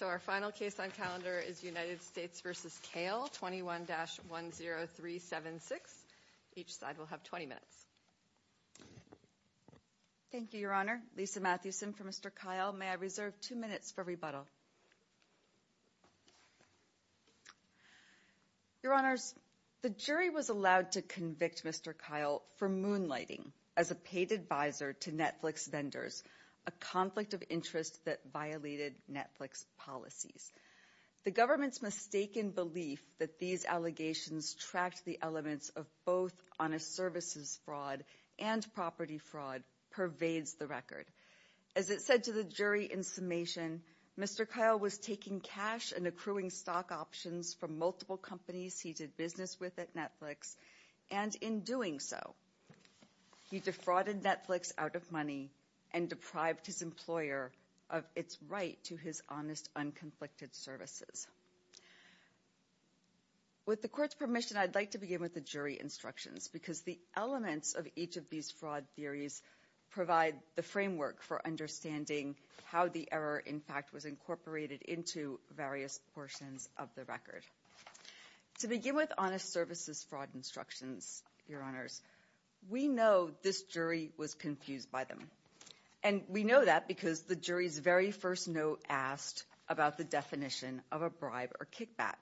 21-10376. Each side will have 20 minutes. Thank you, Your Honor. Lisa Mathewson for Mr. Kail. May I reserve two minutes for rebuttal? Your Honors, the jury was allowed to convict Mr. Kail for moonlighting as a paid advisor to Netflix vendors, a conflict of interest that violated Netflix policies. The government's mistaken belief that these allegations tracked the elements of both honest services fraud and property fraud pervades the record. As it said to the jury in summation, Mr. Kail was taking cash and accruing stock options from multiple companies he did business with at Netflix, and in doing so, he defrauded Netflix out of money and deprived his employer of its right to his honest, unconflicted services. With the court's permission, I'd like to begin with the jury instructions because the elements of each of these fraud theories provide the framework for understanding how the error, in fact, was incorporated into various portions of the record. To begin with honest services fraud instructions, Your Honors, we know this jury was confused by them, and we know that because the jury's very first note asked about the definition of a bribe or kickback.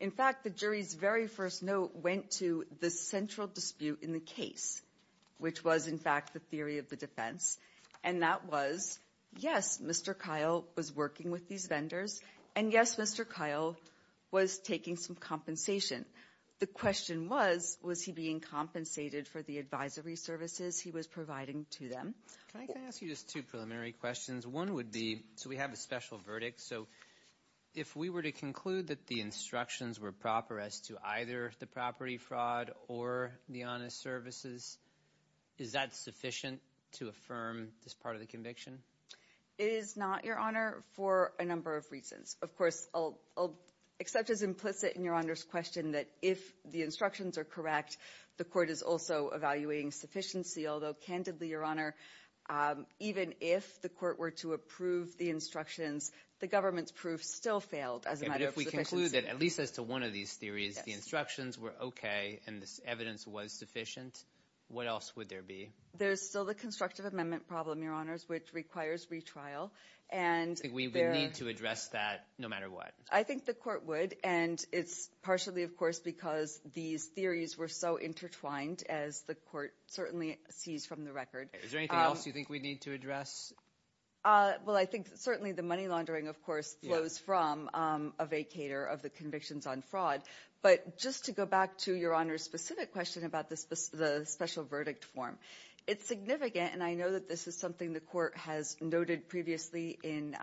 In fact, the jury's very first note went to the central dispute in the case, which was, in fact, the theory of the defense, and that was, yes, Mr. Kail was working with these vendors, and yes, Mr. Kail was taking some compensation. The question was, was he being compensated for the advisory services he was providing to them? Can I ask you just two preliminary questions? One would be, so we have a special verdict, so if we were to conclude that the instructions were proper as to either the property fraud or the honest services, is that sufficient to affirm this part of the conviction? It is not, Your Honor, for a number of reasons. Of course, I'll accept as implicit in Your Honor's question that if the instructions are correct, the court is also evaluating sufficiency, although candidly, Your Honor, even if the court were to approve the instructions, the government's proof still failed as a matter of sufficiency. So if we were to conclude that, at least as to one of these theories, the instructions were okay and this evidence was sufficient, what else would there be? There's still the constructive amendment problem, Your Honors, which requires retrial, and there I think we would need to address that no matter what. I think the court would, and it's partially, of course, because these theories were so intertwined, as the court certainly sees from the record. Is there anything else you think we need to address? Well, I think certainly the money laundering, of course, flows from a vacator of the convictions on fraud, but just to go back to Your Honor's specific question about the special verdict form, it's significant, and I know that this is something the court has noted previously in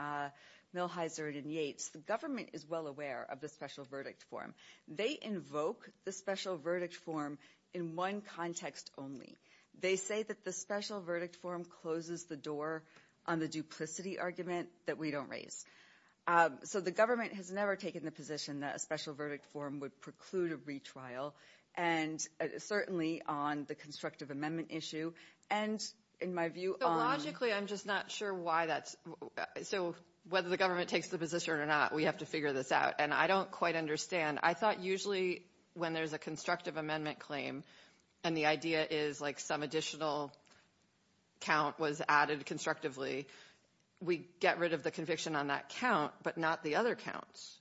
Millheiser and in Yates, the government is well aware of the special verdict form. They invoke the special verdict form in one context only. They say that the special verdict form closes the door on the duplicity argument that we don't raise. So the government has never taken the position that a special verdict form would preclude a retrial, and certainly on the constructive amendment issue, and in my view on – So logically, I'm just not sure why that's – so whether the government takes the position or not, we have to figure this out, and I don't quite understand. I thought usually when there's a constructive amendment claim, and the idea is like some additional count was added constructively, we get rid of the conviction on that count, but not the other counts.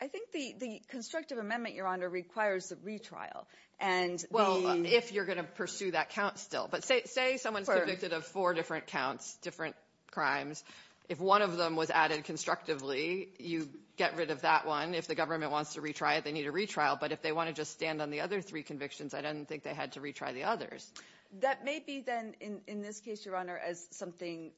I think the constructive amendment, Your Honor, requires a retrial, and the – Well, if you're going to pursue that count still, but say someone's convicted of four different counts, different crimes, if one of them was added constructively, you get rid of that one. If the government wants to retry it, they need a retrial, but if they want to just stand on the other three convictions, I don't think they had to retry the others. That may be then, in this case, Your Honor, as something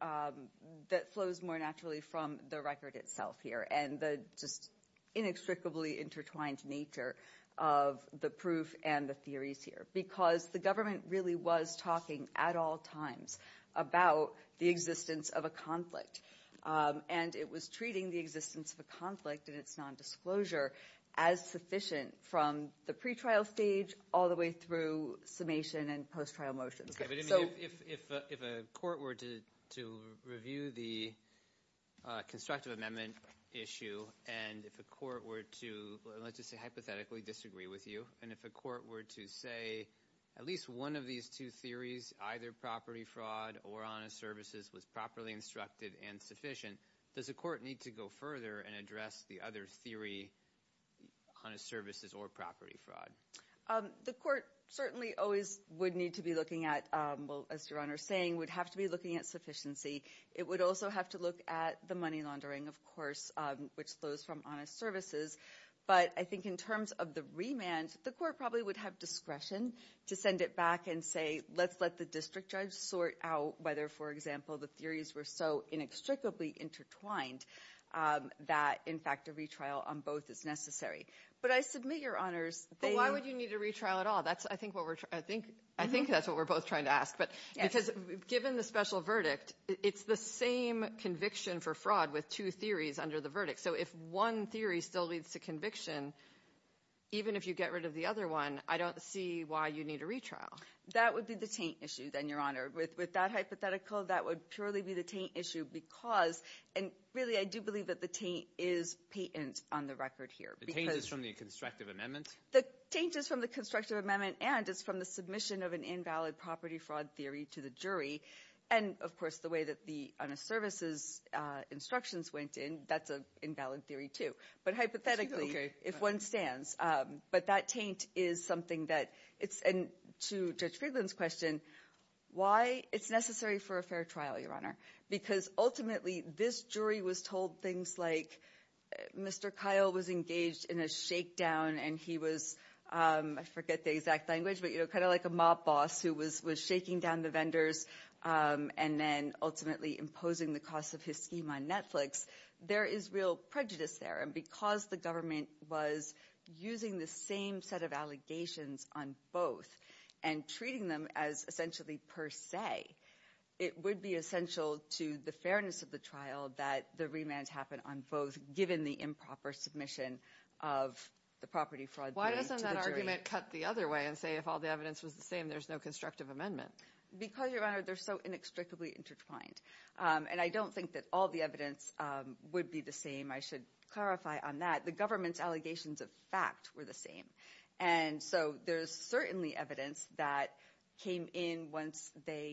that flows more naturally from the record itself here, and the just inextricably intertwined nature of the proof and the theories here, because the government really was talking at all times about the existence of a conflict, and it was treating the existence of a conflict and its nondisclosure as sufficient from the pretrial stage all the way through summation and post-trial motions. Okay, but if a court were to review the constructive amendment issue, and if a court were to, let's just say hypothetically disagree with you, and if a court were to say at least one of these two theories, either property fraud or honest services, was properly instructed and sufficient, does a court need to go further and address the other theory, honest services or property fraud? The court certainly always would need to be looking at, well, as Your Honor is saying, would have to be looking at sufficiency. It would also have to look at the money laundering, of course, which flows from honest services, but I think in terms of the remand, the court probably would have discretion to send it back and say, let's let the district judge sort out whether, for example, the theories were so inextricably intertwined that, in fact, a retrial on both is necessary. But I submit, Your Honors, they- But why would you need a retrial at all? I think that's what we're both trying to ask, because given the special verdict, it's the same conviction for fraud with two theories under the verdict. So if one theory still leads to conviction, even if you get rid of the other one, I don't see why you need a retrial. That would be the taint issue, then, Your Honor. With that hypothetical, that would purely be the taint issue because, and really I do believe that the taint is patent on the record here. The taint is from the constructive amendment? The taint is from the constructive amendment and it's from the submission of an invalid property fraud theory to the jury, and of course the way that the honest services instructions went in, that's an invalid theory too. But hypothetically, if one stands. But that taint is something that it's, and to Judge Friedland's question, why it's necessary for a fair trial, Your Honor? Because ultimately, this jury was told things like, Mr. Kyle was engaged in a shakedown and he was, I forget the exact language, but kind of like a mob boss who was shaking down the vendors and then ultimately imposing the cost of his scheme on Netflix. There is real prejudice there and because the government was using the same set of allegations on both and treating them as essentially per se, it would be essential to the fairness of the trial that the remand happen on both given the improper submission of the property fraud theory to the jury. Why doesn't that argument cut the other way and say if all the evidence was the same, there's no constructive amendment? Because Your Honor, they're so inextricably intertwined and I don't think that all the evidence would be the same. I should clarify on that. The government's allegations of fact were the same. And so there's certainly evidence that came in once they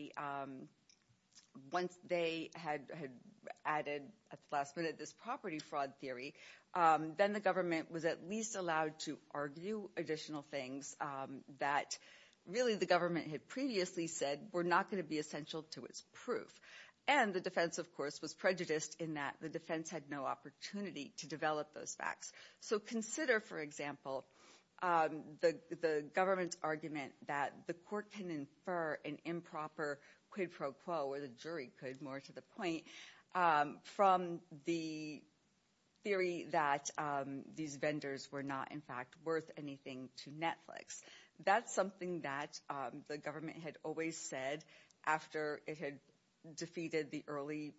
had added at the last minute this property fraud theory. Then the government was at least allowed to argue additional things that really the government had previously said were not going to be essential to its proof. And the defense, of course, was prejudiced in that the defense had no opportunity to develop those facts. So consider, for example, the government's argument that the court can infer an improper quid pro quo where the jury could, more to the point, from the theory that these vendors were not in fact worth anything to Netflix. That's something that the government had always said after it had defeated the early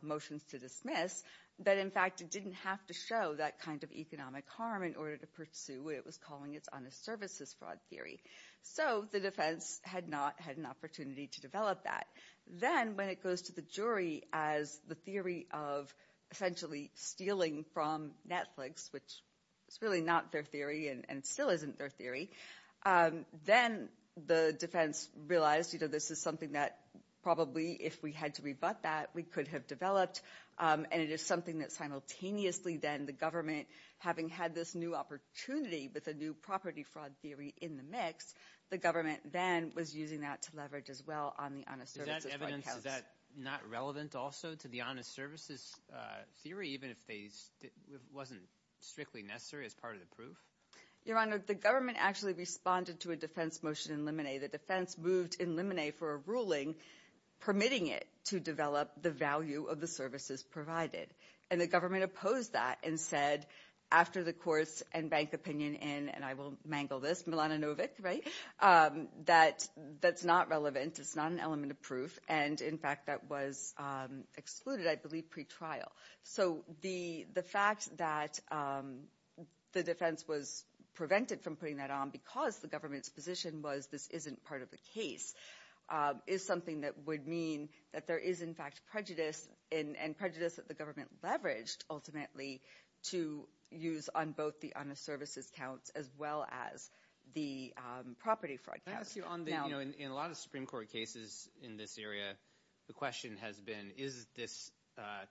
motions to dismiss that in fact it didn't have to show that kind of economic harm in order to pursue what it was calling its honest services fraud theory. So the defense had not had an opportunity to develop that. Then when it goes to the jury as the theory of essentially stealing from Netflix, which is really not their theory and still isn't their theory, then the defense realized this is something that probably if we had to rebut that, we could have developed, and it is something that simultaneously then the government, having had this new opportunity with a new property fraud theory in the mix, the government then was using that to leverage as well on the honest services fraud case. Is that not relevant also to the honest services theory, even if it wasn't strictly necessary as part of the proof? Your Honor, the government actually responded to a defense motion in Limine. The defense moved in Limine for a ruling permitting it to develop the value of the services provided, and the government opposed that and said after the courts and bank opinion in, and I will mangle this, Milanovic, right, that that's not relevant, it's not an element of proof, and in fact that was excluded, I believe, pretrial. So the fact that the defense was prevented from putting that on because the government's position was this isn't part of the case is something that would mean that there is in fact prejudice and prejudice that the government leveraged ultimately to use on both the honest services counts as well as the property fraud counts. I'll ask you on the, you know, in a lot of Supreme Court cases in this area, the question has been, is this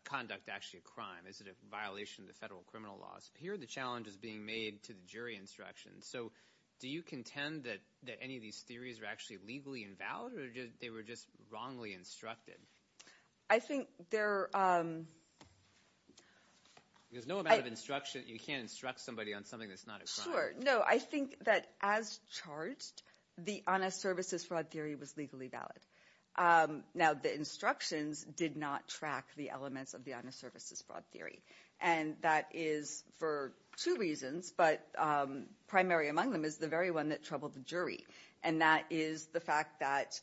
conduct actually a crime, is it a violation of the federal criminal laws? Here the challenge is being made to the jury instructions. So do you contend that any of these theories are actually legally invalid or they were just wrongly instructed? I think they're, um. There's no amount of instruction, you can't instruct somebody on something that's not a crime. Sure, no, I think that as charged, the honest services fraud theory was legally valid. Now the instructions did not track the elements of the honest services fraud theory, and that is for two reasons, but primary among them is the very one that troubled the jury, and that is the fact that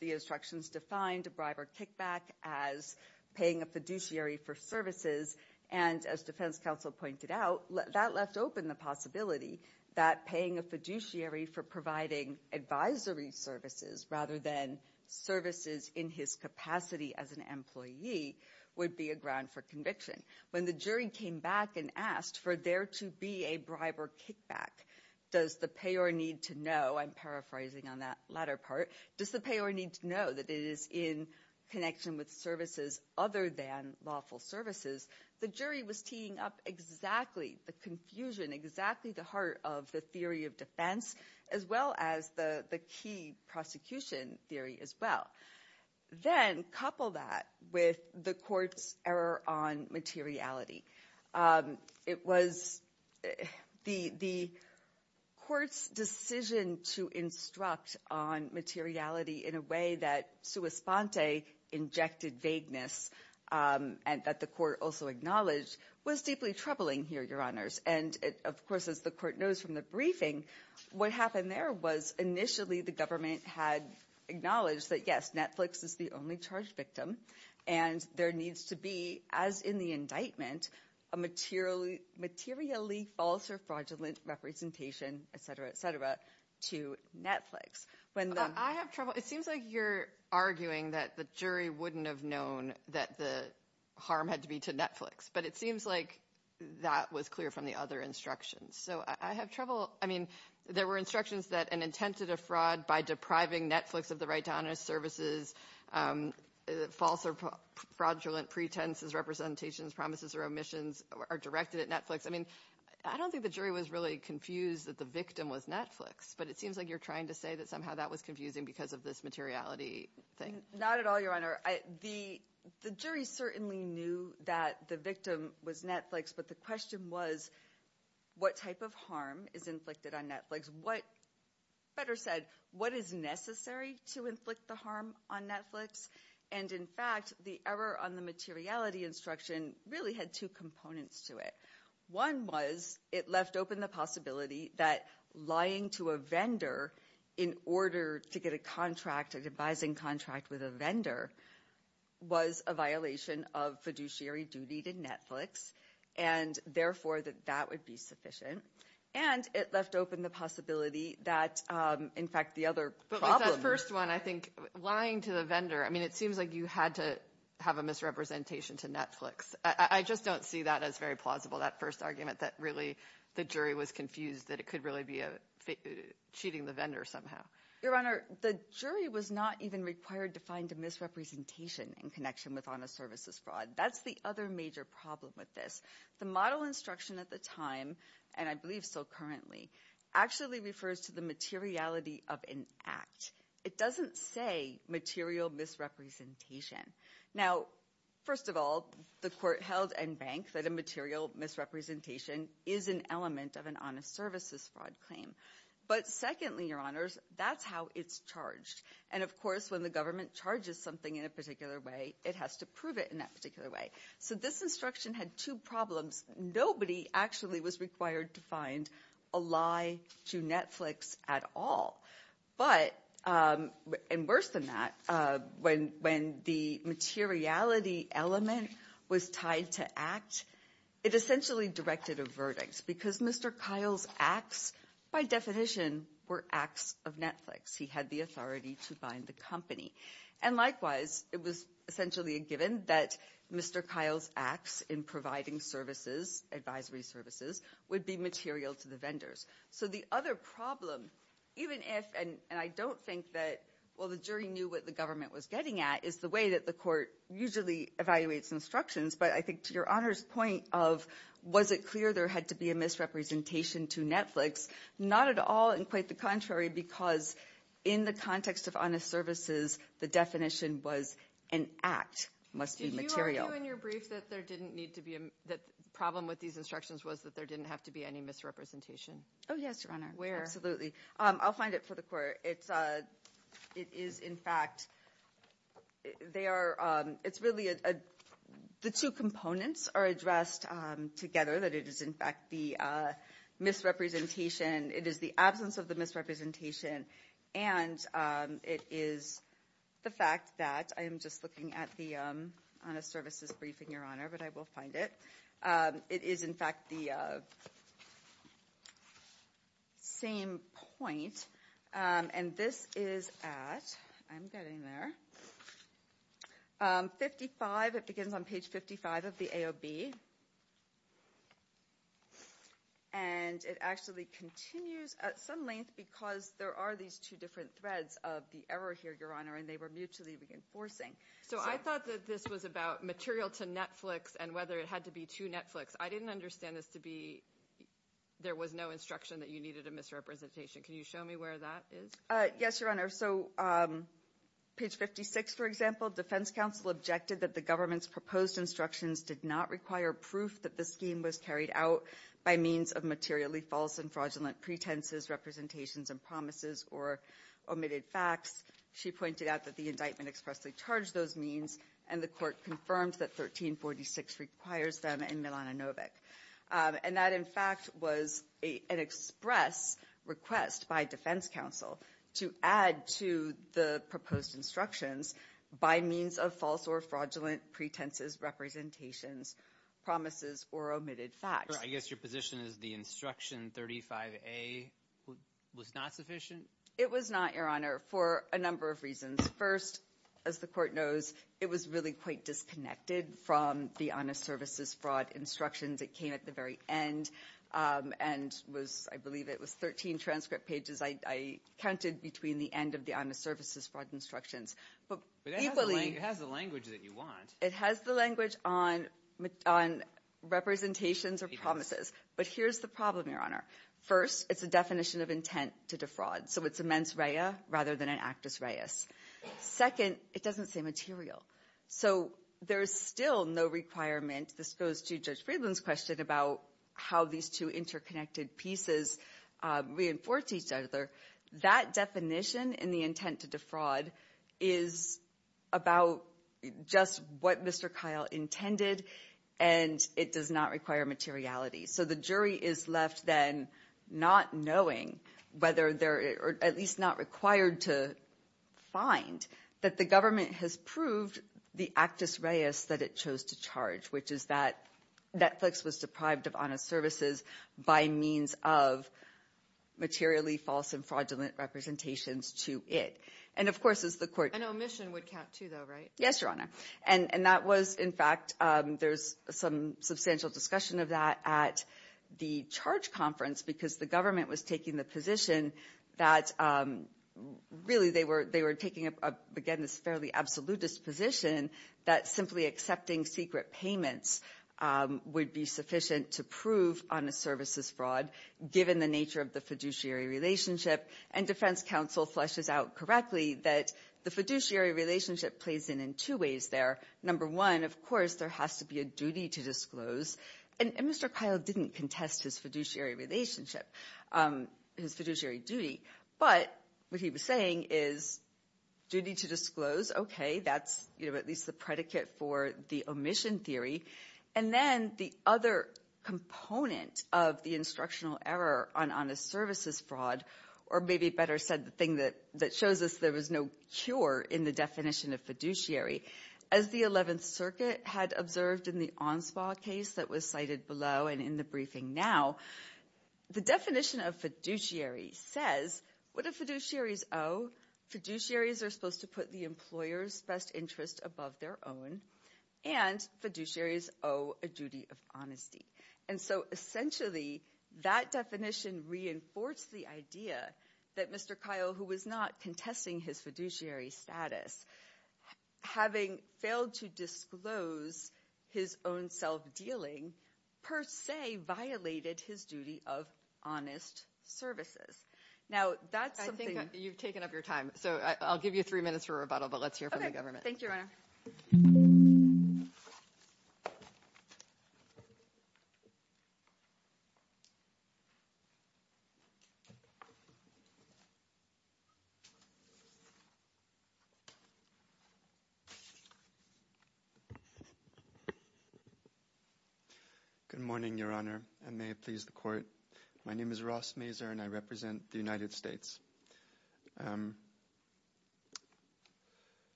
the instructions defined a bribe or kickback as paying a fiduciary for services, and as defense counsel pointed out, that left open the possibility that paying a fiduciary for providing advisory services rather than services in his capacity as an employee would be a ground for conviction. When the jury came back and asked for there to be a bribe or kickback, does the payer need to know, I'm paraphrasing on that latter part, does the payer need to know that it is in connection with services other than lawful services, the jury was teeing up exactly the confusion, exactly the heart of the theory of defense, as well as the key prosecution theory as well. Then couple that with the court's error on materiality. It was the court's decision to instruct on materiality in a way that sua sponte, injected vagueness, and that the court also acknowledged was deeply troubling here, your honors, and of course as the court knows from the briefing, what happened there was initially the government had acknowledged that yes, Netflix is the only charge victim, and there needs to be, as in the indictment, a materially false or fraudulent representation, et cetera, et cetera, to Netflix. When the- I have trouble. It seems like you're arguing that the jury wouldn't have known that the harm had to be to Netflix, but it seems like that was clear from the other instructions. So I have trouble, I mean, there were instructions that an intent to defraud by depriving Netflix of the right to honest services, false or fraudulent pretenses, representations, promises or omissions are directed at Netflix. I mean, I don't think the jury was really confused that the victim was Netflix, but it seems like you're trying to say that somehow that was confusing because of this materiality thing. Not at all, your honor. The jury certainly knew that the victim was Netflix, but the question was what type of harm is inflicted on Netflix? What, better said, what is necessary to inflict the harm on Netflix? And in fact, the error on the materiality instruction really had two components to it. One was it left open the possibility that lying to a vendor in order to get a contract, an advising contract with a vendor, was a violation of fiduciary duty to Netflix, and therefore that that would be sufficient. And it left open the possibility that, in fact, the other problem... But with that first one, I think lying to the vendor, I mean, it seems like you had to have a misrepresentation to Netflix. I just don't see that as very plausible, that first argument that really the jury was confused that it could really be cheating the vendor somehow. Your honor, the jury was not even required to find a misrepresentation in connection with honest services fraud. That's the other major problem with this. The model instruction at the time, and I believe so currently, actually refers to the materiality of an act. It doesn't say material misrepresentation. Now, first of all, the court held and banked that a material misrepresentation is an element of an honest services fraud claim. But secondly, your honors, that's how it's charged. And of course, when the government charges something in a particular way, it has to prove it in that particular way. So this instruction had two problems. Nobody actually was required to find a lie to Netflix at all. But, and worse than that, when the materiality element was tied to act, it essentially directed a verdict. Because Mr. Kyle's acts, by definition, were acts of Netflix. He had the authority to bind the company. And likewise, it was essentially a given that Mr. Kyle's acts in providing services, advisory services, would be material to the vendors. So the other problem, even if, and I don't think that, well, the jury knew what the government was getting at, is the way that the court usually evaluates instructions. But I think to your honors' point of, was it clear there had to be a misrepresentation to Netflix? Not at all, and quite the contrary, because in the context of honest services, the definition was an act must be material. Did you argue in your brief that there didn't need to be, that the problem with these instructions was that there didn't have to be any misrepresentation? Oh, yes, your honor. Where? Absolutely. I'll find it for the court. It's, it is, in fact, they are, it's really, the two components are addressed together, that it is, in fact, the misrepresentation, it is the absence of the misrepresentation, and it is the fact that, I am just looking at the honest services briefing, your honor, but I will find it. It is, in fact, the same point, and this is at, I'm getting there, 55, it begins on page 55 of the AOB, and it actually continues at some length because there are these two different threads of the error here, your honor, and they were mutually reinforcing. So I thought that this was about material to Netflix and whether it had to be to Netflix. I didn't understand this to be, there was no instruction that you needed a misrepresentation. Can you show me where that is? Yes, your honor, so page 56, for example, defense counsel objected that the government's proposed instructions did not require proof that the scheme was carried out by means of materially false and fraudulent pretenses, representations, and promises or omitted facts. She pointed out that the indictment expressly charged those means, and the court confirmed that 1346 requires them in Milanovic, and that, in fact, was an express request by defense counsel to add to the proposed instructions by means of false or fraudulent pretenses, representations, promises, or omitted facts. I guess your position is the instruction 35A was not sufficient? It was not, your honor, for a number of reasons. First, as the court knows, it was really quite disconnected from the honest services fraud instructions. It came at the very end, and was, I believe it was 13 transcript pages. I counted between the end of the honest services fraud instructions. But equally- But it has the language that you want. It has the language on representations or promises. But here's the problem, your honor. First, it's a definition of intent to defraud, so it's a mens rea rather than an actus reis. Second, it doesn't say material. So there's still no requirement. This goes to Judge Friedland's question about how these two interconnected pieces reinforce each other. That definition and the intent to defraud is about just what Mr. Kyle intended, and it does not require materiality. So the jury is left then not knowing whether they're at least not required to find that the government has proved the actus reis that it chose to charge, which is that Netflix was deprived of honest services by means of materially false and fraudulent representations to it. And of course, as the court- An omission would count too, though, right? Yes, your honor. And that was, in fact, there's some substantial discussion of that at the charge conference because the government was taking the position that, really, they were taking, again, this fairly absolutist position that simply accepting secret payments would be sufficient to prove honest services fraud, given the nature of the fiduciary relationship. And defense counsel fleshes out correctly that the fiduciary relationship plays in in two ways there. Number one, of course, there has to be a duty to disclose, and Mr. Kyle didn't contest his fiduciary relationship, his fiduciary duty, but what he was saying is duty to disclose, okay, that's at least the predicate for the omission theory. And then the other component of the instructional error on honest services fraud, or maybe better said the thing that shows us there was no cure in the definition of fiduciary, as the 7th Circuit had observed in the Onspaw case that was cited below and in the briefing now, the definition of fiduciary says what do fiduciaries owe? Fiduciaries are supposed to put the employer's best interest above their own, and fiduciaries owe a duty of honesty. And so, essentially, that definition reinforced the idea that Mr. Kyle, who was not contesting his fiduciary status, having failed to disclose his own self-dealing per se violated his duty of honest services. Now that's something... I think you've taken up your time, so I'll give you three minutes for rebuttal, but let's hear from the government. Thank you, Your Honor. Good morning, Your Honor, and may it please the Court. My name is Ross Mazur, and I represent the United States.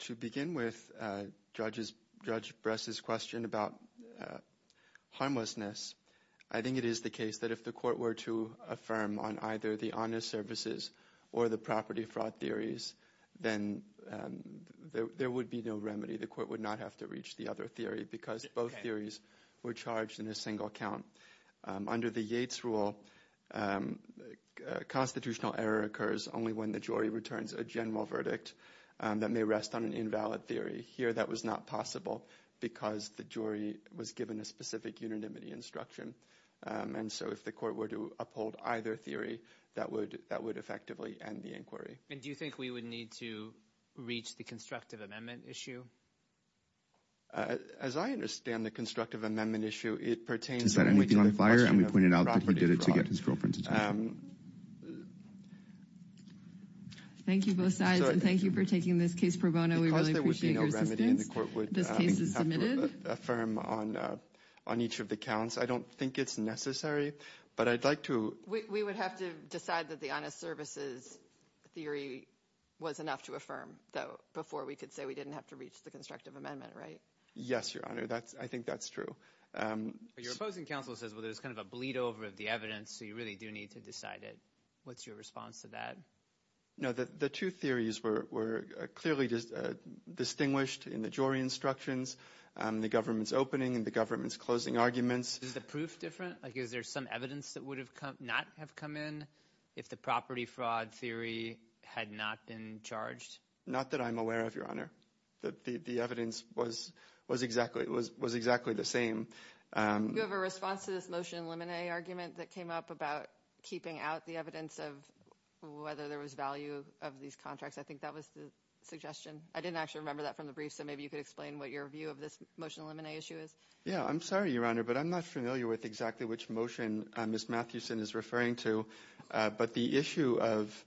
To begin with, Judge Bress's question about harmlessness, I think it is the case that if the Court were to affirm on either the honest services or the property fraud theories, then there would be no remedy. The Court would not have to reach the other theory because both theories were charged in a single count. Under the Yates rule, constitutional error occurs only when the jury returns a general verdict that may rest on an invalid theory. Here that was not possible because the jury was given a specific unanimity instruction. And so if the Court were to uphold either theory, that would effectively end the inquiry. And do you think we would need to reach the constructive amendment issue? As I understand the constructive amendment issue, it pertains to the question of property fraud. Thank you both sides, and thank you for taking this case pro bono. We really appreciate your assistance. Because there would be no remedy, the Court would have to affirm on each of the counts. I don't think it's necessary, but I'd like to... We would have to decide that the honest services theory was enough to affirm, though, before we could say we didn't have to reach the constructive amendment, right? Yes, Your Honor, I think that's true. Your opposing counsel says, well, there's kind of a bleed over of the evidence, so you really do need to decide it. What's your response to that? The two theories were clearly distinguished in the jury instructions, the government's opening and the government's closing arguments. Is the proof different? Like, is there some evidence that would not have come in if the property fraud theory had not been charged? Not that I'm aware of, Your Honor. The evidence was exactly the same. Do you have a response to this motion in limine argument that came up about keeping out the evidence of whether there was value of these contracts? I think that was the suggestion. I didn't actually remember that from the brief, so maybe you could explain what your view of this motion in limine issue is. Yeah, I'm sorry, Your Honor, but I'm not familiar with exactly which motion Ms. Mathewson is referring to, but the issue of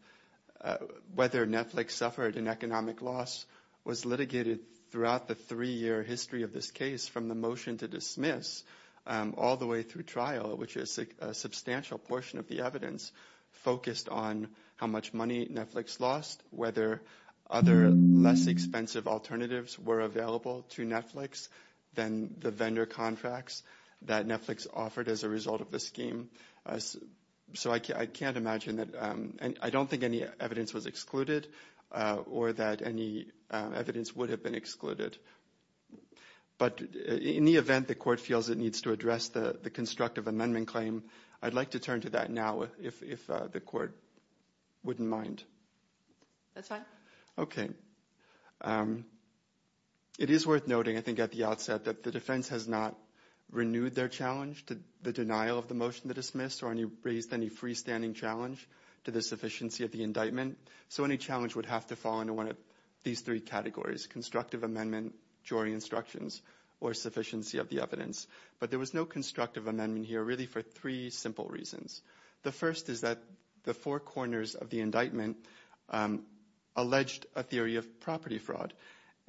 whether Netflix suffered an economic loss was litigated throughout the three-year history of this case from the motion to dismiss all the way through trial, which is a substantial portion of the evidence, focused on how much money Netflix lost, whether other less expensive alternatives were available to Netflix than the vendor contracts that Netflix offered as a result of the scheme. So I can't imagine that, and I don't think any evidence was excluded or that any evidence would have been excluded. But in the event the Court feels it needs to address the constructive amendment claim, I'd like to turn to that now if the Court wouldn't mind. That's fine. Okay. It is worth noting, I think, at the outset that the defense has not renewed their challenge to the denial of the motion to dismiss or raised any freestanding challenge to the sufficiency of the indictment. So any challenge would have to fall into one of these three categories, constructive amendment, jury instructions, or sufficiency of the evidence. But there was no constructive amendment here really for three simple reasons. The first is that the four corners of the indictment alleged a theory of property fraud,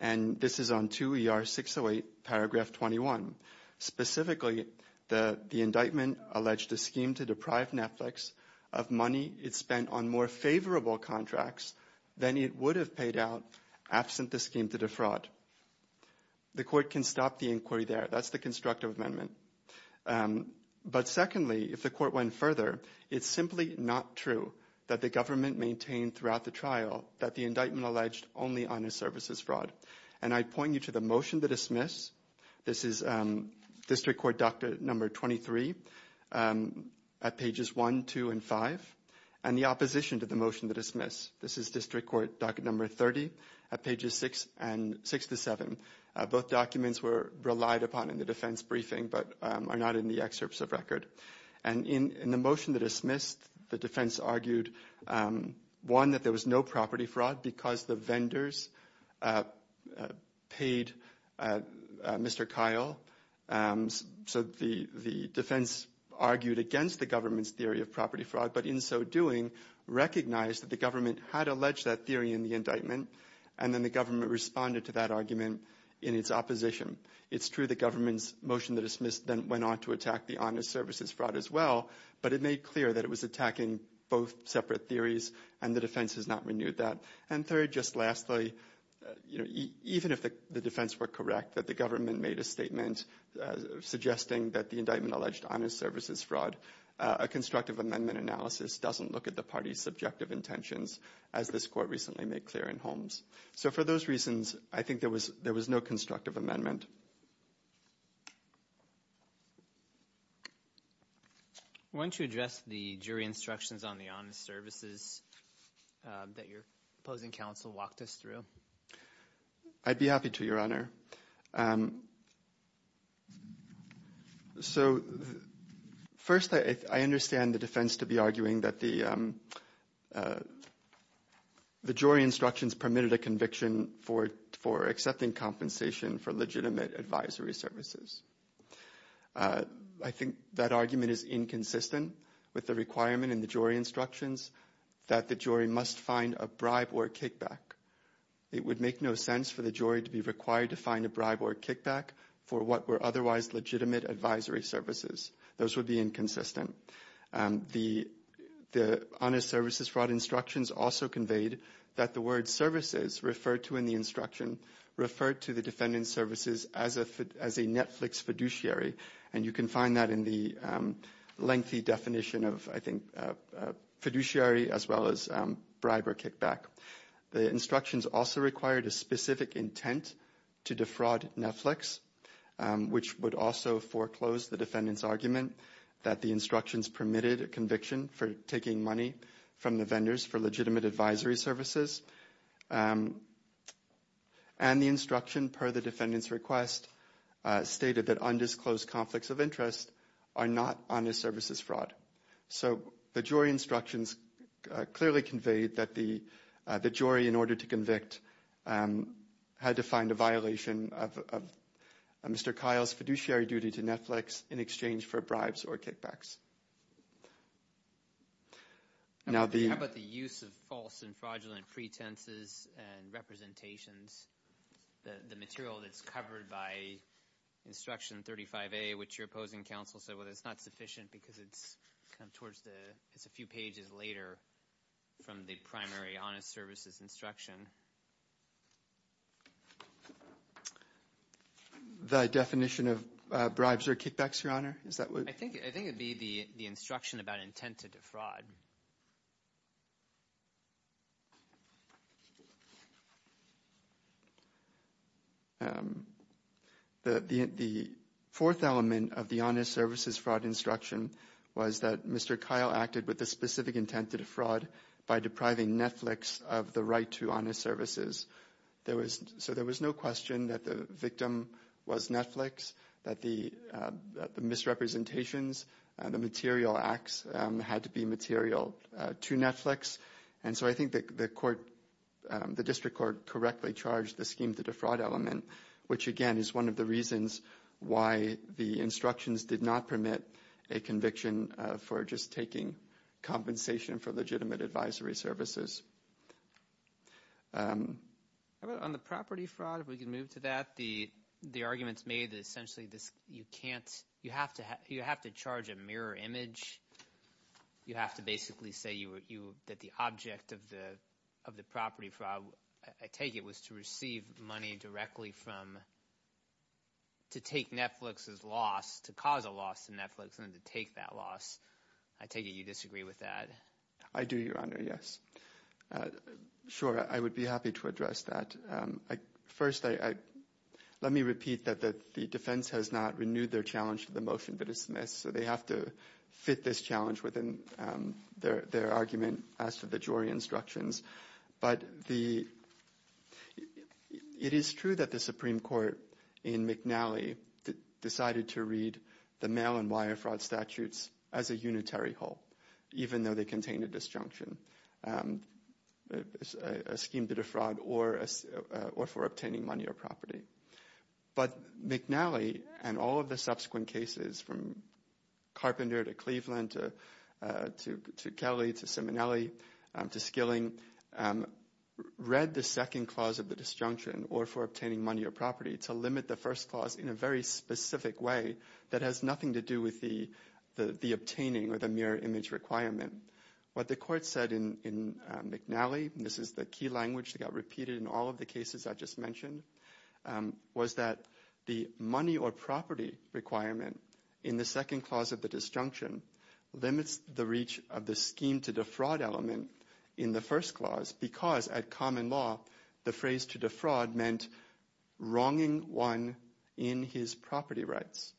and this is on 2 ER 608 paragraph 21. Specifically, the indictment alleged a scheme to deprive Netflix of money it spent on more favorable contracts than it would have paid out absent the scheme to defraud. The Court can stop the inquiry there. That's the constructive amendment. But secondly, if the Court went further, it's simply not true that the government maintained throughout the trial that the indictment alleged only honest services fraud. And I point you to the motion to dismiss. This is District Court Doctrine number 23 at pages 1, 2, and 5. And the opposition to the motion to dismiss. This is District Court Doctrine number 30 at pages 6 and 6 to 7. Both documents were relied upon in the defense briefing, but are not in the excerpts of record. And in the motion to dismiss, the defense argued, one, that there was no property fraud because the vendors paid Mr. Kyle. So the defense argued against the government's theory of property fraud, but in so doing, recognized that the government had alleged that theory in the indictment. And then the government responded to that argument in its opposition. It's true the government's motion to dismiss then went on to attack the honest services fraud as well. But it made clear that it was attacking both separate theories, and the defense has not renewed that. And third, just lastly, even if the defense were correct, that the government made a statement suggesting that the indictment alleged honest services fraud, a constructive amendment analysis doesn't look at the party's subjective intentions, as this court recently made clear in Holmes. So for those reasons, I think there was no constructive amendment. Why don't you address the jury instructions on the honest services that your opposing counsel walked us through? I'd be happy to, Your Honor. So first, I understand the defense to be arguing that the jury instructions permitted a conviction for accepting compensation for legitimate advisory services. I think that argument is inconsistent with the requirement in the jury instructions that the jury must find a bribe or kickback. It would make no sense for the jury to be required to find a bribe or kickback for what were otherwise legitimate advisory services. Those would be inconsistent. The honest services fraud instructions also conveyed that the word services referred to in the instruction referred to the defendant's services as a Netflix fiduciary. And you can find that in the lengthy definition of, I think, fiduciary as well as bribe or kickback. The instructions also required a specific intent to defraud Netflix, which would also foreclose the defendant's argument that the instructions permitted a conviction for taking money from the vendors for legitimate advisory services. And the instruction per the defendant's request stated that undisclosed conflicts of interest are not honest services fraud. So the jury instructions clearly conveyed that the jury, in order to convict, had to find a violation of Mr. Kyle's fiduciary duty to Netflix in exchange for bribes or kickbacks. Now the- How about the use of false and fraudulent pretenses and representations? The material that's covered by instruction 35A, which your opposing counsel said, well, it's not sufficient because it's kind of towards the, it's a few pages later from the primary honest services instruction. The definition of bribes or kickbacks, your honor? Is that what- I think it would be the instruction about intent to defraud. The fourth element of the honest services fraud instruction was that Mr. Kyle acted with the specific intent to defraud by depriving Netflix of the right to honest services. There was, so there was no question that the victim was Netflix, that the misrepresentations and the material acts had to be material to Netflix. And so I think that the court, the district court correctly charged the scheme to defraud element, which again, is one of the for just taking compensation for legitimate advisory services. On the property fraud, if we can move to that, the argument's made that essentially this, you can't, you have to charge a mirror image. You have to basically say that the object of the property fraud, I take it, was to receive money directly from, to take Netflix's loss, to cause a loss to Netflix and to take that loss. I take it you disagree with that? I do, your honor. Yes. Sure. I would be happy to address that. First, let me repeat that the defense has not renewed their challenge to the motion, but it's missed. So they have to fit this challenge within their argument as to the jury instructions. But the, it is true that the Supreme Court in McNally decided to read the mail and wire fraud statutes as a unitary whole, even though they contain a disjunction, a scheme to defraud or for obtaining money or property. But McNally and all of the subsequent cases from Carpenter to Cleveland to to Kelly, to Simonelli, to Skilling, read the second clause of the disjunction or for obtaining money or property to limit the first clause in a very specific way that has nothing to do with the obtaining or the mirror image requirement. What the court said in McNally, this is the key language that got repeated in all of the cases I just mentioned, was that the money or property requirement in the second clause of the disjunction limits the reach of the scheme to defraud element in the first clause, because at common law, the phrase to defraud meant wronging one in his property rights.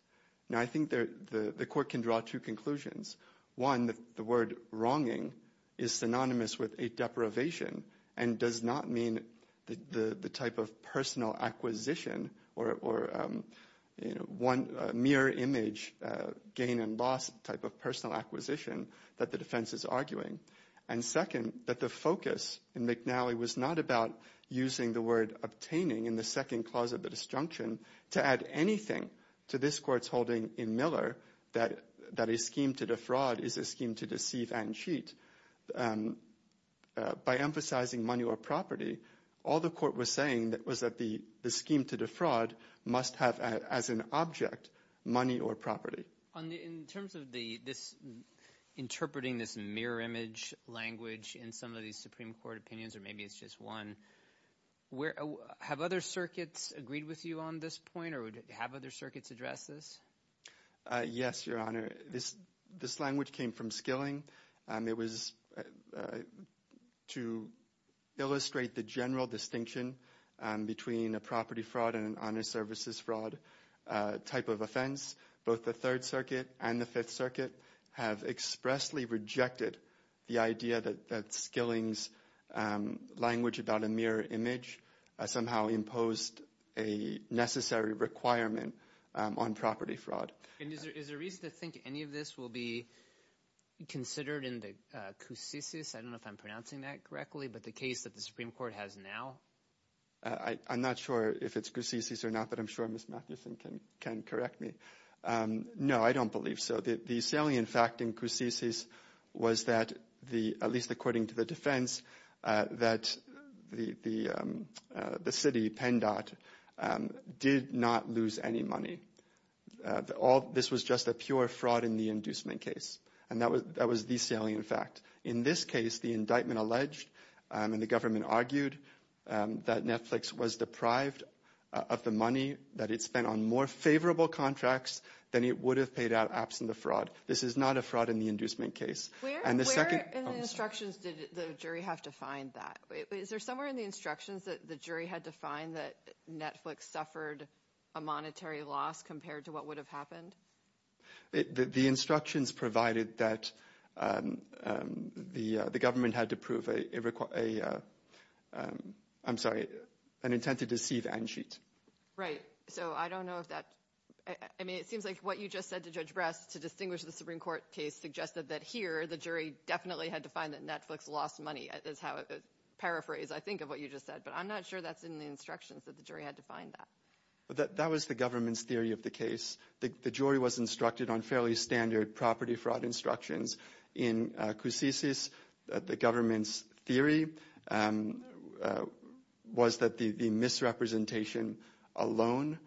Now, I think the court can draw two conclusions. One, the word wronging is synonymous with a deprivation and does not mean the type of personal acquisition or mirror image gain and loss type of personal acquisition that the defense is arguing. And second, that the focus in McNally was not about using the word obtaining in the second clause of the disjunction to add anything to this court's holding in Miller that a scheme to defraud is a scheme to deceive and cheat. By emphasizing money or property, all the court was saying was that the scheme to defraud must have, as an object, money or property. In terms of interpreting this mirror image language in some of these Supreme Court opinions, or maybe it's just one, have other circuits agreed with you on this point, or have other circuits addressed this? Yes, Your Honor. This language came from skilling. It was to illustrate the general distinction between a property fraud and an honor services fraud type of offense. Both the Third Circuit and the Fifth Circuit have expressly rejected the idea that skilling's language about a mirror image somehow imposed a necessary requirement on property fraud. And is there reason to think any of this will be considered in the Cusices? I don't know if I'm pronouncing that correctly, but the case that the Supreme Court has now? I'm not sure if it's Cusices or not, but I'm sure Ms. Matthewson can correct me. No, I don't believe so. The salient fact in Cusices was that, at least according to the defense, that the city, PennDOT, did not lose any money. This was just a pure fraud in the inducement case, and that was the salient fact. In this case, the indictment alleged, and the government argued, that Netflix was deprived of the money that it spent on more favorable contracts than it would have paid out, absent the fraud. This is not a fraud in the inducement case. Where in the instructions did the jury have to find that? Is there somewhere in the instructions that the jury had to find that Netflix suffered a monetary loss compared to what would have happened? The instructions provided that the government had to prove a, I'm sorry, an intent to deceive and cheat. Right, so I don't know if that, I mean, it seems like what you just said to Judge Brass, to distinguish the Supreme Court case, suggested that here the jury definitely had to find that Netflix lost money, is how it paraphrased, I think, of what you just said, but I'm not sure that's in the instructions that the jury had to find that. That was the government's theory of the case. The jury was instructed on fairly standard property fraud instructions. In Cusisis, the government's theory was that the misrepresentation alone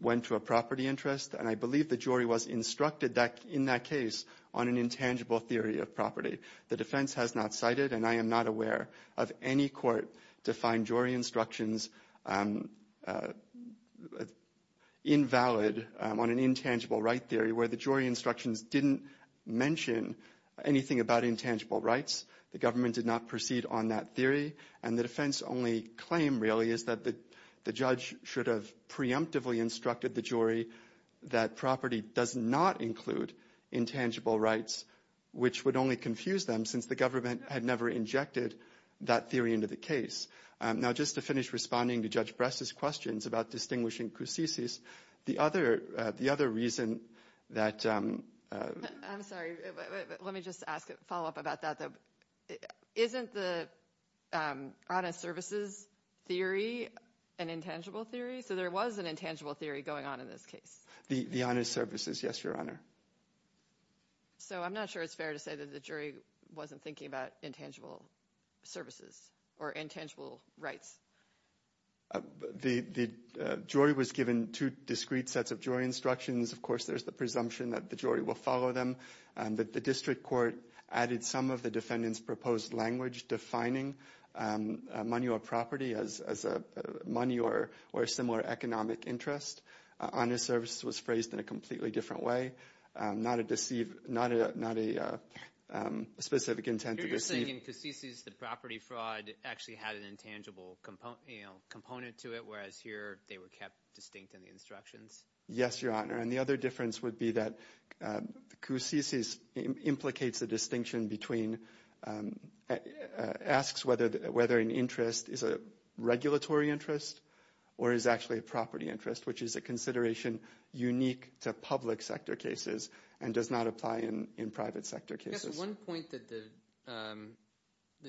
went to a property interest, and I believe the jury was instructed in that case on an intangible theory of property. The defense has not cited, and I am not aware of any court to find jury instructions invalid on an intangible right theory where the jury instructions didn't mention anything about intangible rights. The government did not proceed on that theory, and the defense only claim, really, is that the judge should have preemptively instructed the jury that property does not include intangible rights, which would only confuse them, since the government had never injected that theory into the case. Now, just to finish responding to Judge Brass's questions about distinguishing Cusisis, the other reason that... I'm sorry, let me just ask a follow-up about that, though. Isn't the honest services theory an intangible theory? So there was an intangible theory going on in this case? The honest services, yes, Your Honor. So I'm not sure it's fair to say that the jury wasn't thinking about intangible services or intangible rights. The jury was given two discrete sets of jury instructions. Of course, there's the presumption that the jury will follow them, and that the district court added some of the defendant's proposed language defining money or property as money or similar economic interest. Honest services was phrased in a completely different way, not a specific intent to deceive. You're saying in Cusisis, the property fraud actually had an intangible component to it, whereas here they were kept distinct in the instructions? Yes, Your Honor. And the other difference would be that Cusisis implicates a distinction between... asks whether an interest is a regulatory interest or is actually a property interest, which is a consideration unique to public sector cases and does not apply in private sector cases. Yes, one point that the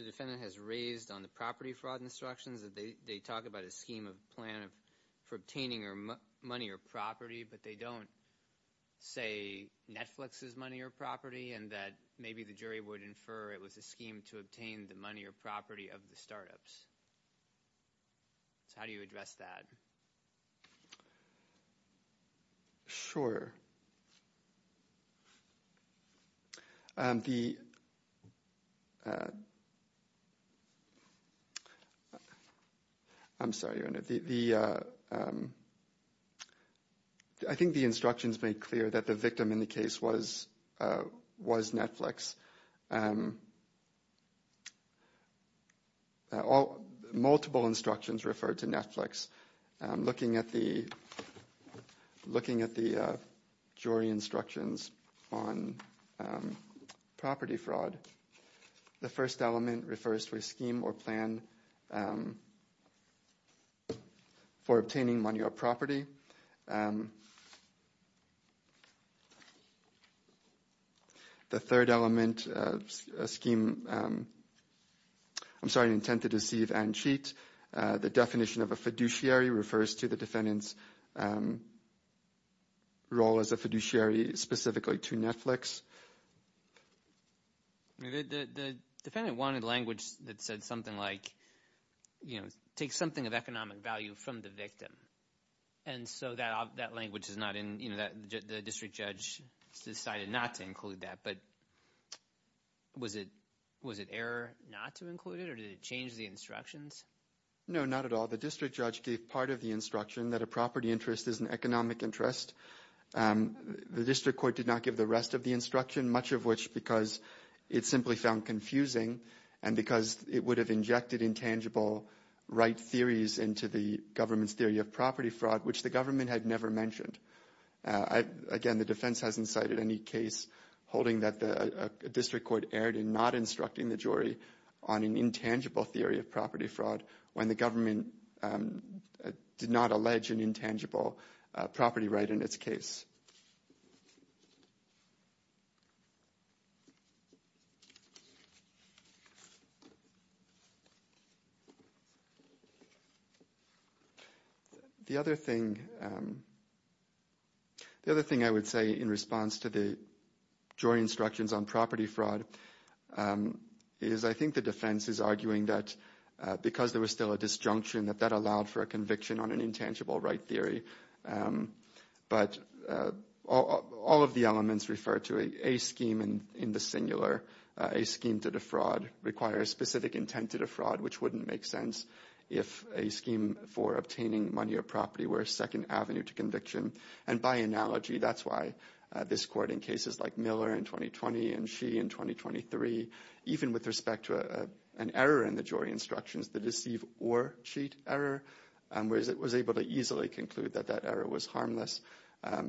defendant has raised on the property fraud instructions, that they talk about a scheme of plan for obtaining money or property, but they don't say Netflix is money or property, and that maybe the jury would infer it was a scheme to obtain the money or property of the startups. So how do you address that? Sure. I'm sorry, Your Honor. I think the instructions made clear that the victim in the case was Netflix. Multiple instructions refer to Netflix. Looking at the jury instructions on property fraud, the first element refers to a scheme or plan for obtaining money or property. The third element of a scheme... I'm sorry, an intent to deceive and cheat. The definition of a fiduciary refers to the defendant's role as a fiduciary specifically to Netflix. The defendant wanted language that said something like, you know, take something of economic value from the victim. And so that language is not in, you know, the district judge decided not to include that. But was it error not to include it or did it change the instructions? No, not at all. The district judge gave part of the instruction that a property interest is an economic interest. The district court did not give the rest of the instruction, much of which because it simply found confusing and because it would have injected intangible right theories into the government's theory of property fraud, which the government had never mentioned. Again, the defense hasn't cited any case holding that the district court erred in not instructing the jury on an intangible theory of property fraud when the government did not allege an intangible property right in its case. The other thing I would say in response to the jury instructions on property fraud is I think the defense is arguing that because there was still a disjunction that that allowed for a conviction on an intangible right theory. But all of the elements refer to a scheme in the singular, a scheme to defraud requires specific intent to defraud, which wouldn't make sense if a scheme for obtaining money or property were a second avenue to conviction. And by analogy, that's why this court in cases like Miller in 2020 and Xi in 2023, even with respect to an error in the jury instructions, the deceive or cheat error, whereas it was able to easily conclude that that error was harmless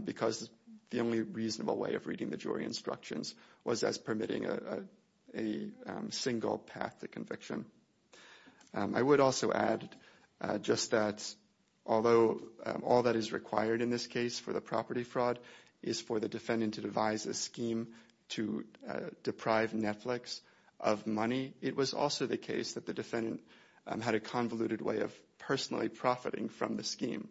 because the only reasonable way of reading the jury instructions was as permitting a single path to conviction. I would also add just that although all that is required in this case for the property fraud is for the defendant to devise a scheme to deprive Netflix of money, it was also the case that the defendant had a convoluted way of personally profiting from the scheme.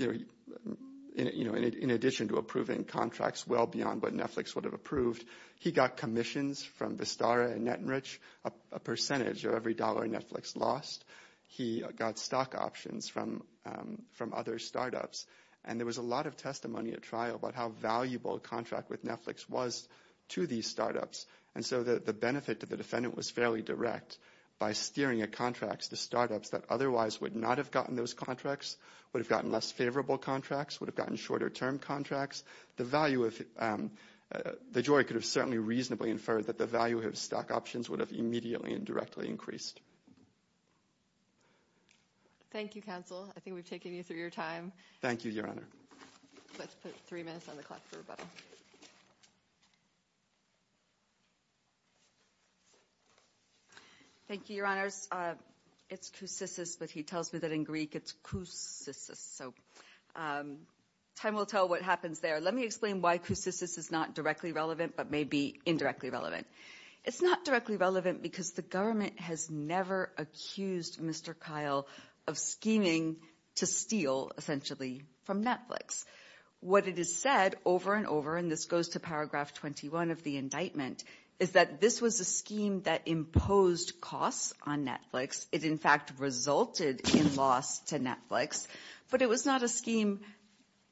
In addition to approving contracts well beyond what Netflix would have approved, he got commissions from Vistara and NetRich, a percentage of every dollar Netflix lost. He got stock options from other startups. And there was a lot of testimony at trial about how valuable a contract with Netflix was to these startups. And so the benefit to the defendant was fairly direct by steering a contract to startups that otherwise would not have gotten those contracts, would have gotten less favorable contracts, would have gotten shorter term contracts. The jury could have certainly reasonably inferred that the value of stock options would have immediately and directly increased. Thank you, counsel. I think we've taken you through your time. Thank you, your honor. Let's put three minutes on the clock for rebuttal. Thank you, your honors. It's kousisis, but he tells me that in Greek it's kousisis. So time will tell what happens there. Let me explain why kousisis is not directly relevant but may be indirectly relevant. It's not directly relevant because the government has never accused Mr. Kyle of scheming to steal essentially from Netflix. What it has said over and over, and this goes to paragraph 21 of the indictment, is that this was a scheme that imposed costs on Netflix. It in fact resulted in loss to Netflix. But it was not a scheme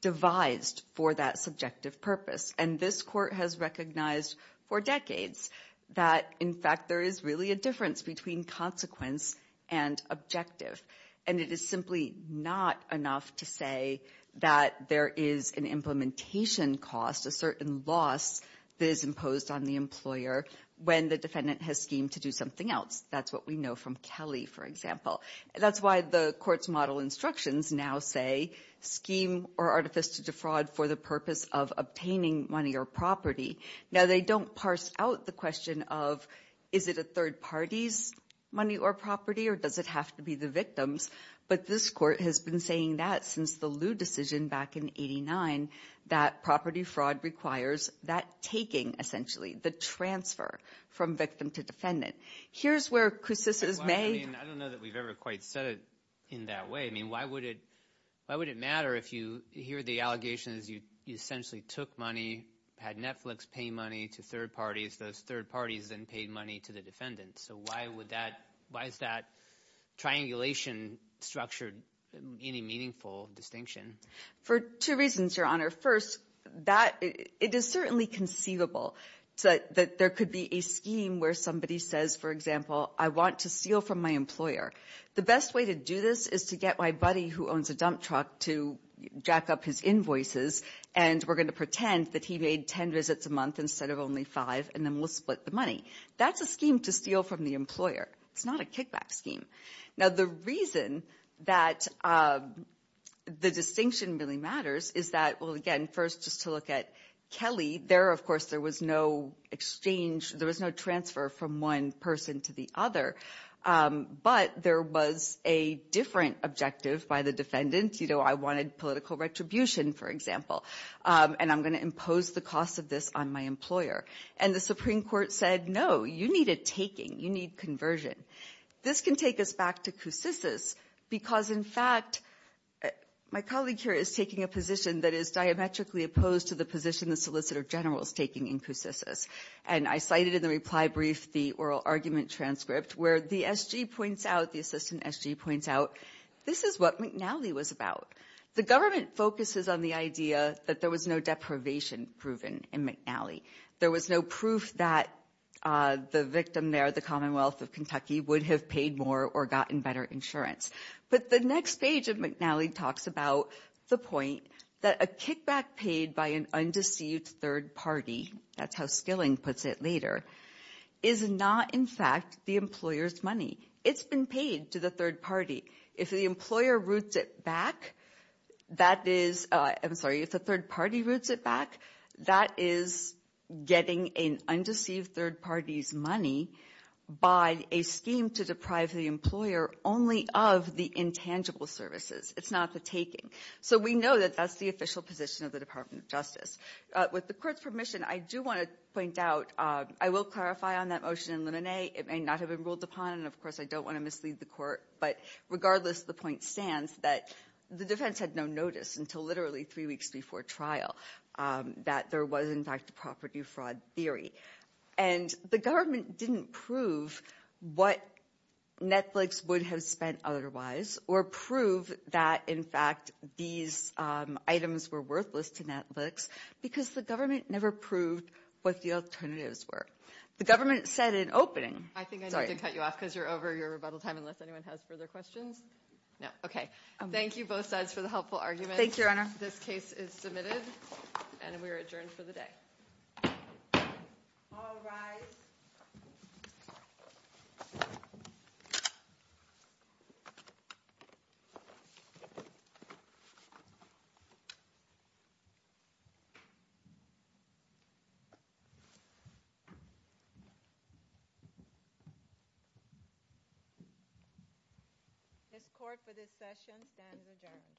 devised for that subjective purpose. And this court has recognized for decades that in fact there is really a difference between consequence and objective. And it is simply not enough to say that there is an implementation cost, a certain loss that is imposed on the employer when the defendant has schemed to do something else. That's what we know from Kelly, for example. That's why the court's model instructions now say scheme or artifice to defraud for the purpose of obtaining money or property. Now they don't parse out the question of is it a third party's money or property or does it have to be the victim's. But this court has been saying that since the Lew decision back in 89, that property fraud requires that taking essentially, the transfer from victim to defendant. Here's where kousisis is made. I don't know that we've ever quite said it in that way. I mean why would it matter if you hear the allegations you essentially took money, had Netflix pay money to third parties, those third parties then paid money to the defendant. So why is that triangulation structured any meaningful distinction? For two reasons, Your Honor. First, it is certainly conceivable that there could be a scheme where somebody says, for example, I want to steal from my employer. The best way to do this is to get my buddy who owns a dump truck to jack up his invoices and we're going to pretend that he made 10 visits a month instead of only five and then we'll split the money. That's a scheme to steal from the employer. It's not a kickback scheme. Now the reason that the distinction really matters is that, well again, first just to look at Kelly, there of course there was no exchange, there was no transfer from one person to the other. But there was a different objective by the defendant, you know, I wanted political retribution, for example, and I'm going to impose the cost of this on my employer. And the Supreme Court said, no, you need a taking, you need conversion. This can take us back to Coussis's because in fact my colleague here is taking a position that is diametrically opposed to the position the Solicitor General is taking in Coussis's. And I cited in the reply brief the oral argument transcript where the SG points out, the McNally was about. The government focuses on the idea that there was no deprivation proven in McNally. There was no proof that the victim there, the Commonwealth of Kentucky would have paid more or gotten better insurance. But the next page of McNally talks about the point that a kickback paid by an undeceived third party, that's how Skilling puts it later, is not in fact the employer's money. It's been paid to the third party. If the employer roots it back, that is, I'm sorry, if the third party roots it back, that is getting an undeceived third party's money by a scheme to deprive the employer only of the intangible services. It's not the taking. So we know that that's the official position of the Department of Justice. With the court's upon, and of course I don't want to mislead the court, but regardless, the point stands that the defense had no notice until literally three weeks before trial that there was in fact property fraud theory. And the government didn't prove what Netflix would have spent otherwise or prove that in fact these items were worthless to Netflix because the government never proved what the alternatives were. The government said in opening... I think I need to cut you off because you're over your rebuttal time unless anyone has further questions. No, okay. Thank you both sides for the helpful arguments. Thank you, Your Honor. This case is submitted and we are adjourned for the day. All rise. This court for this session stands adjourned.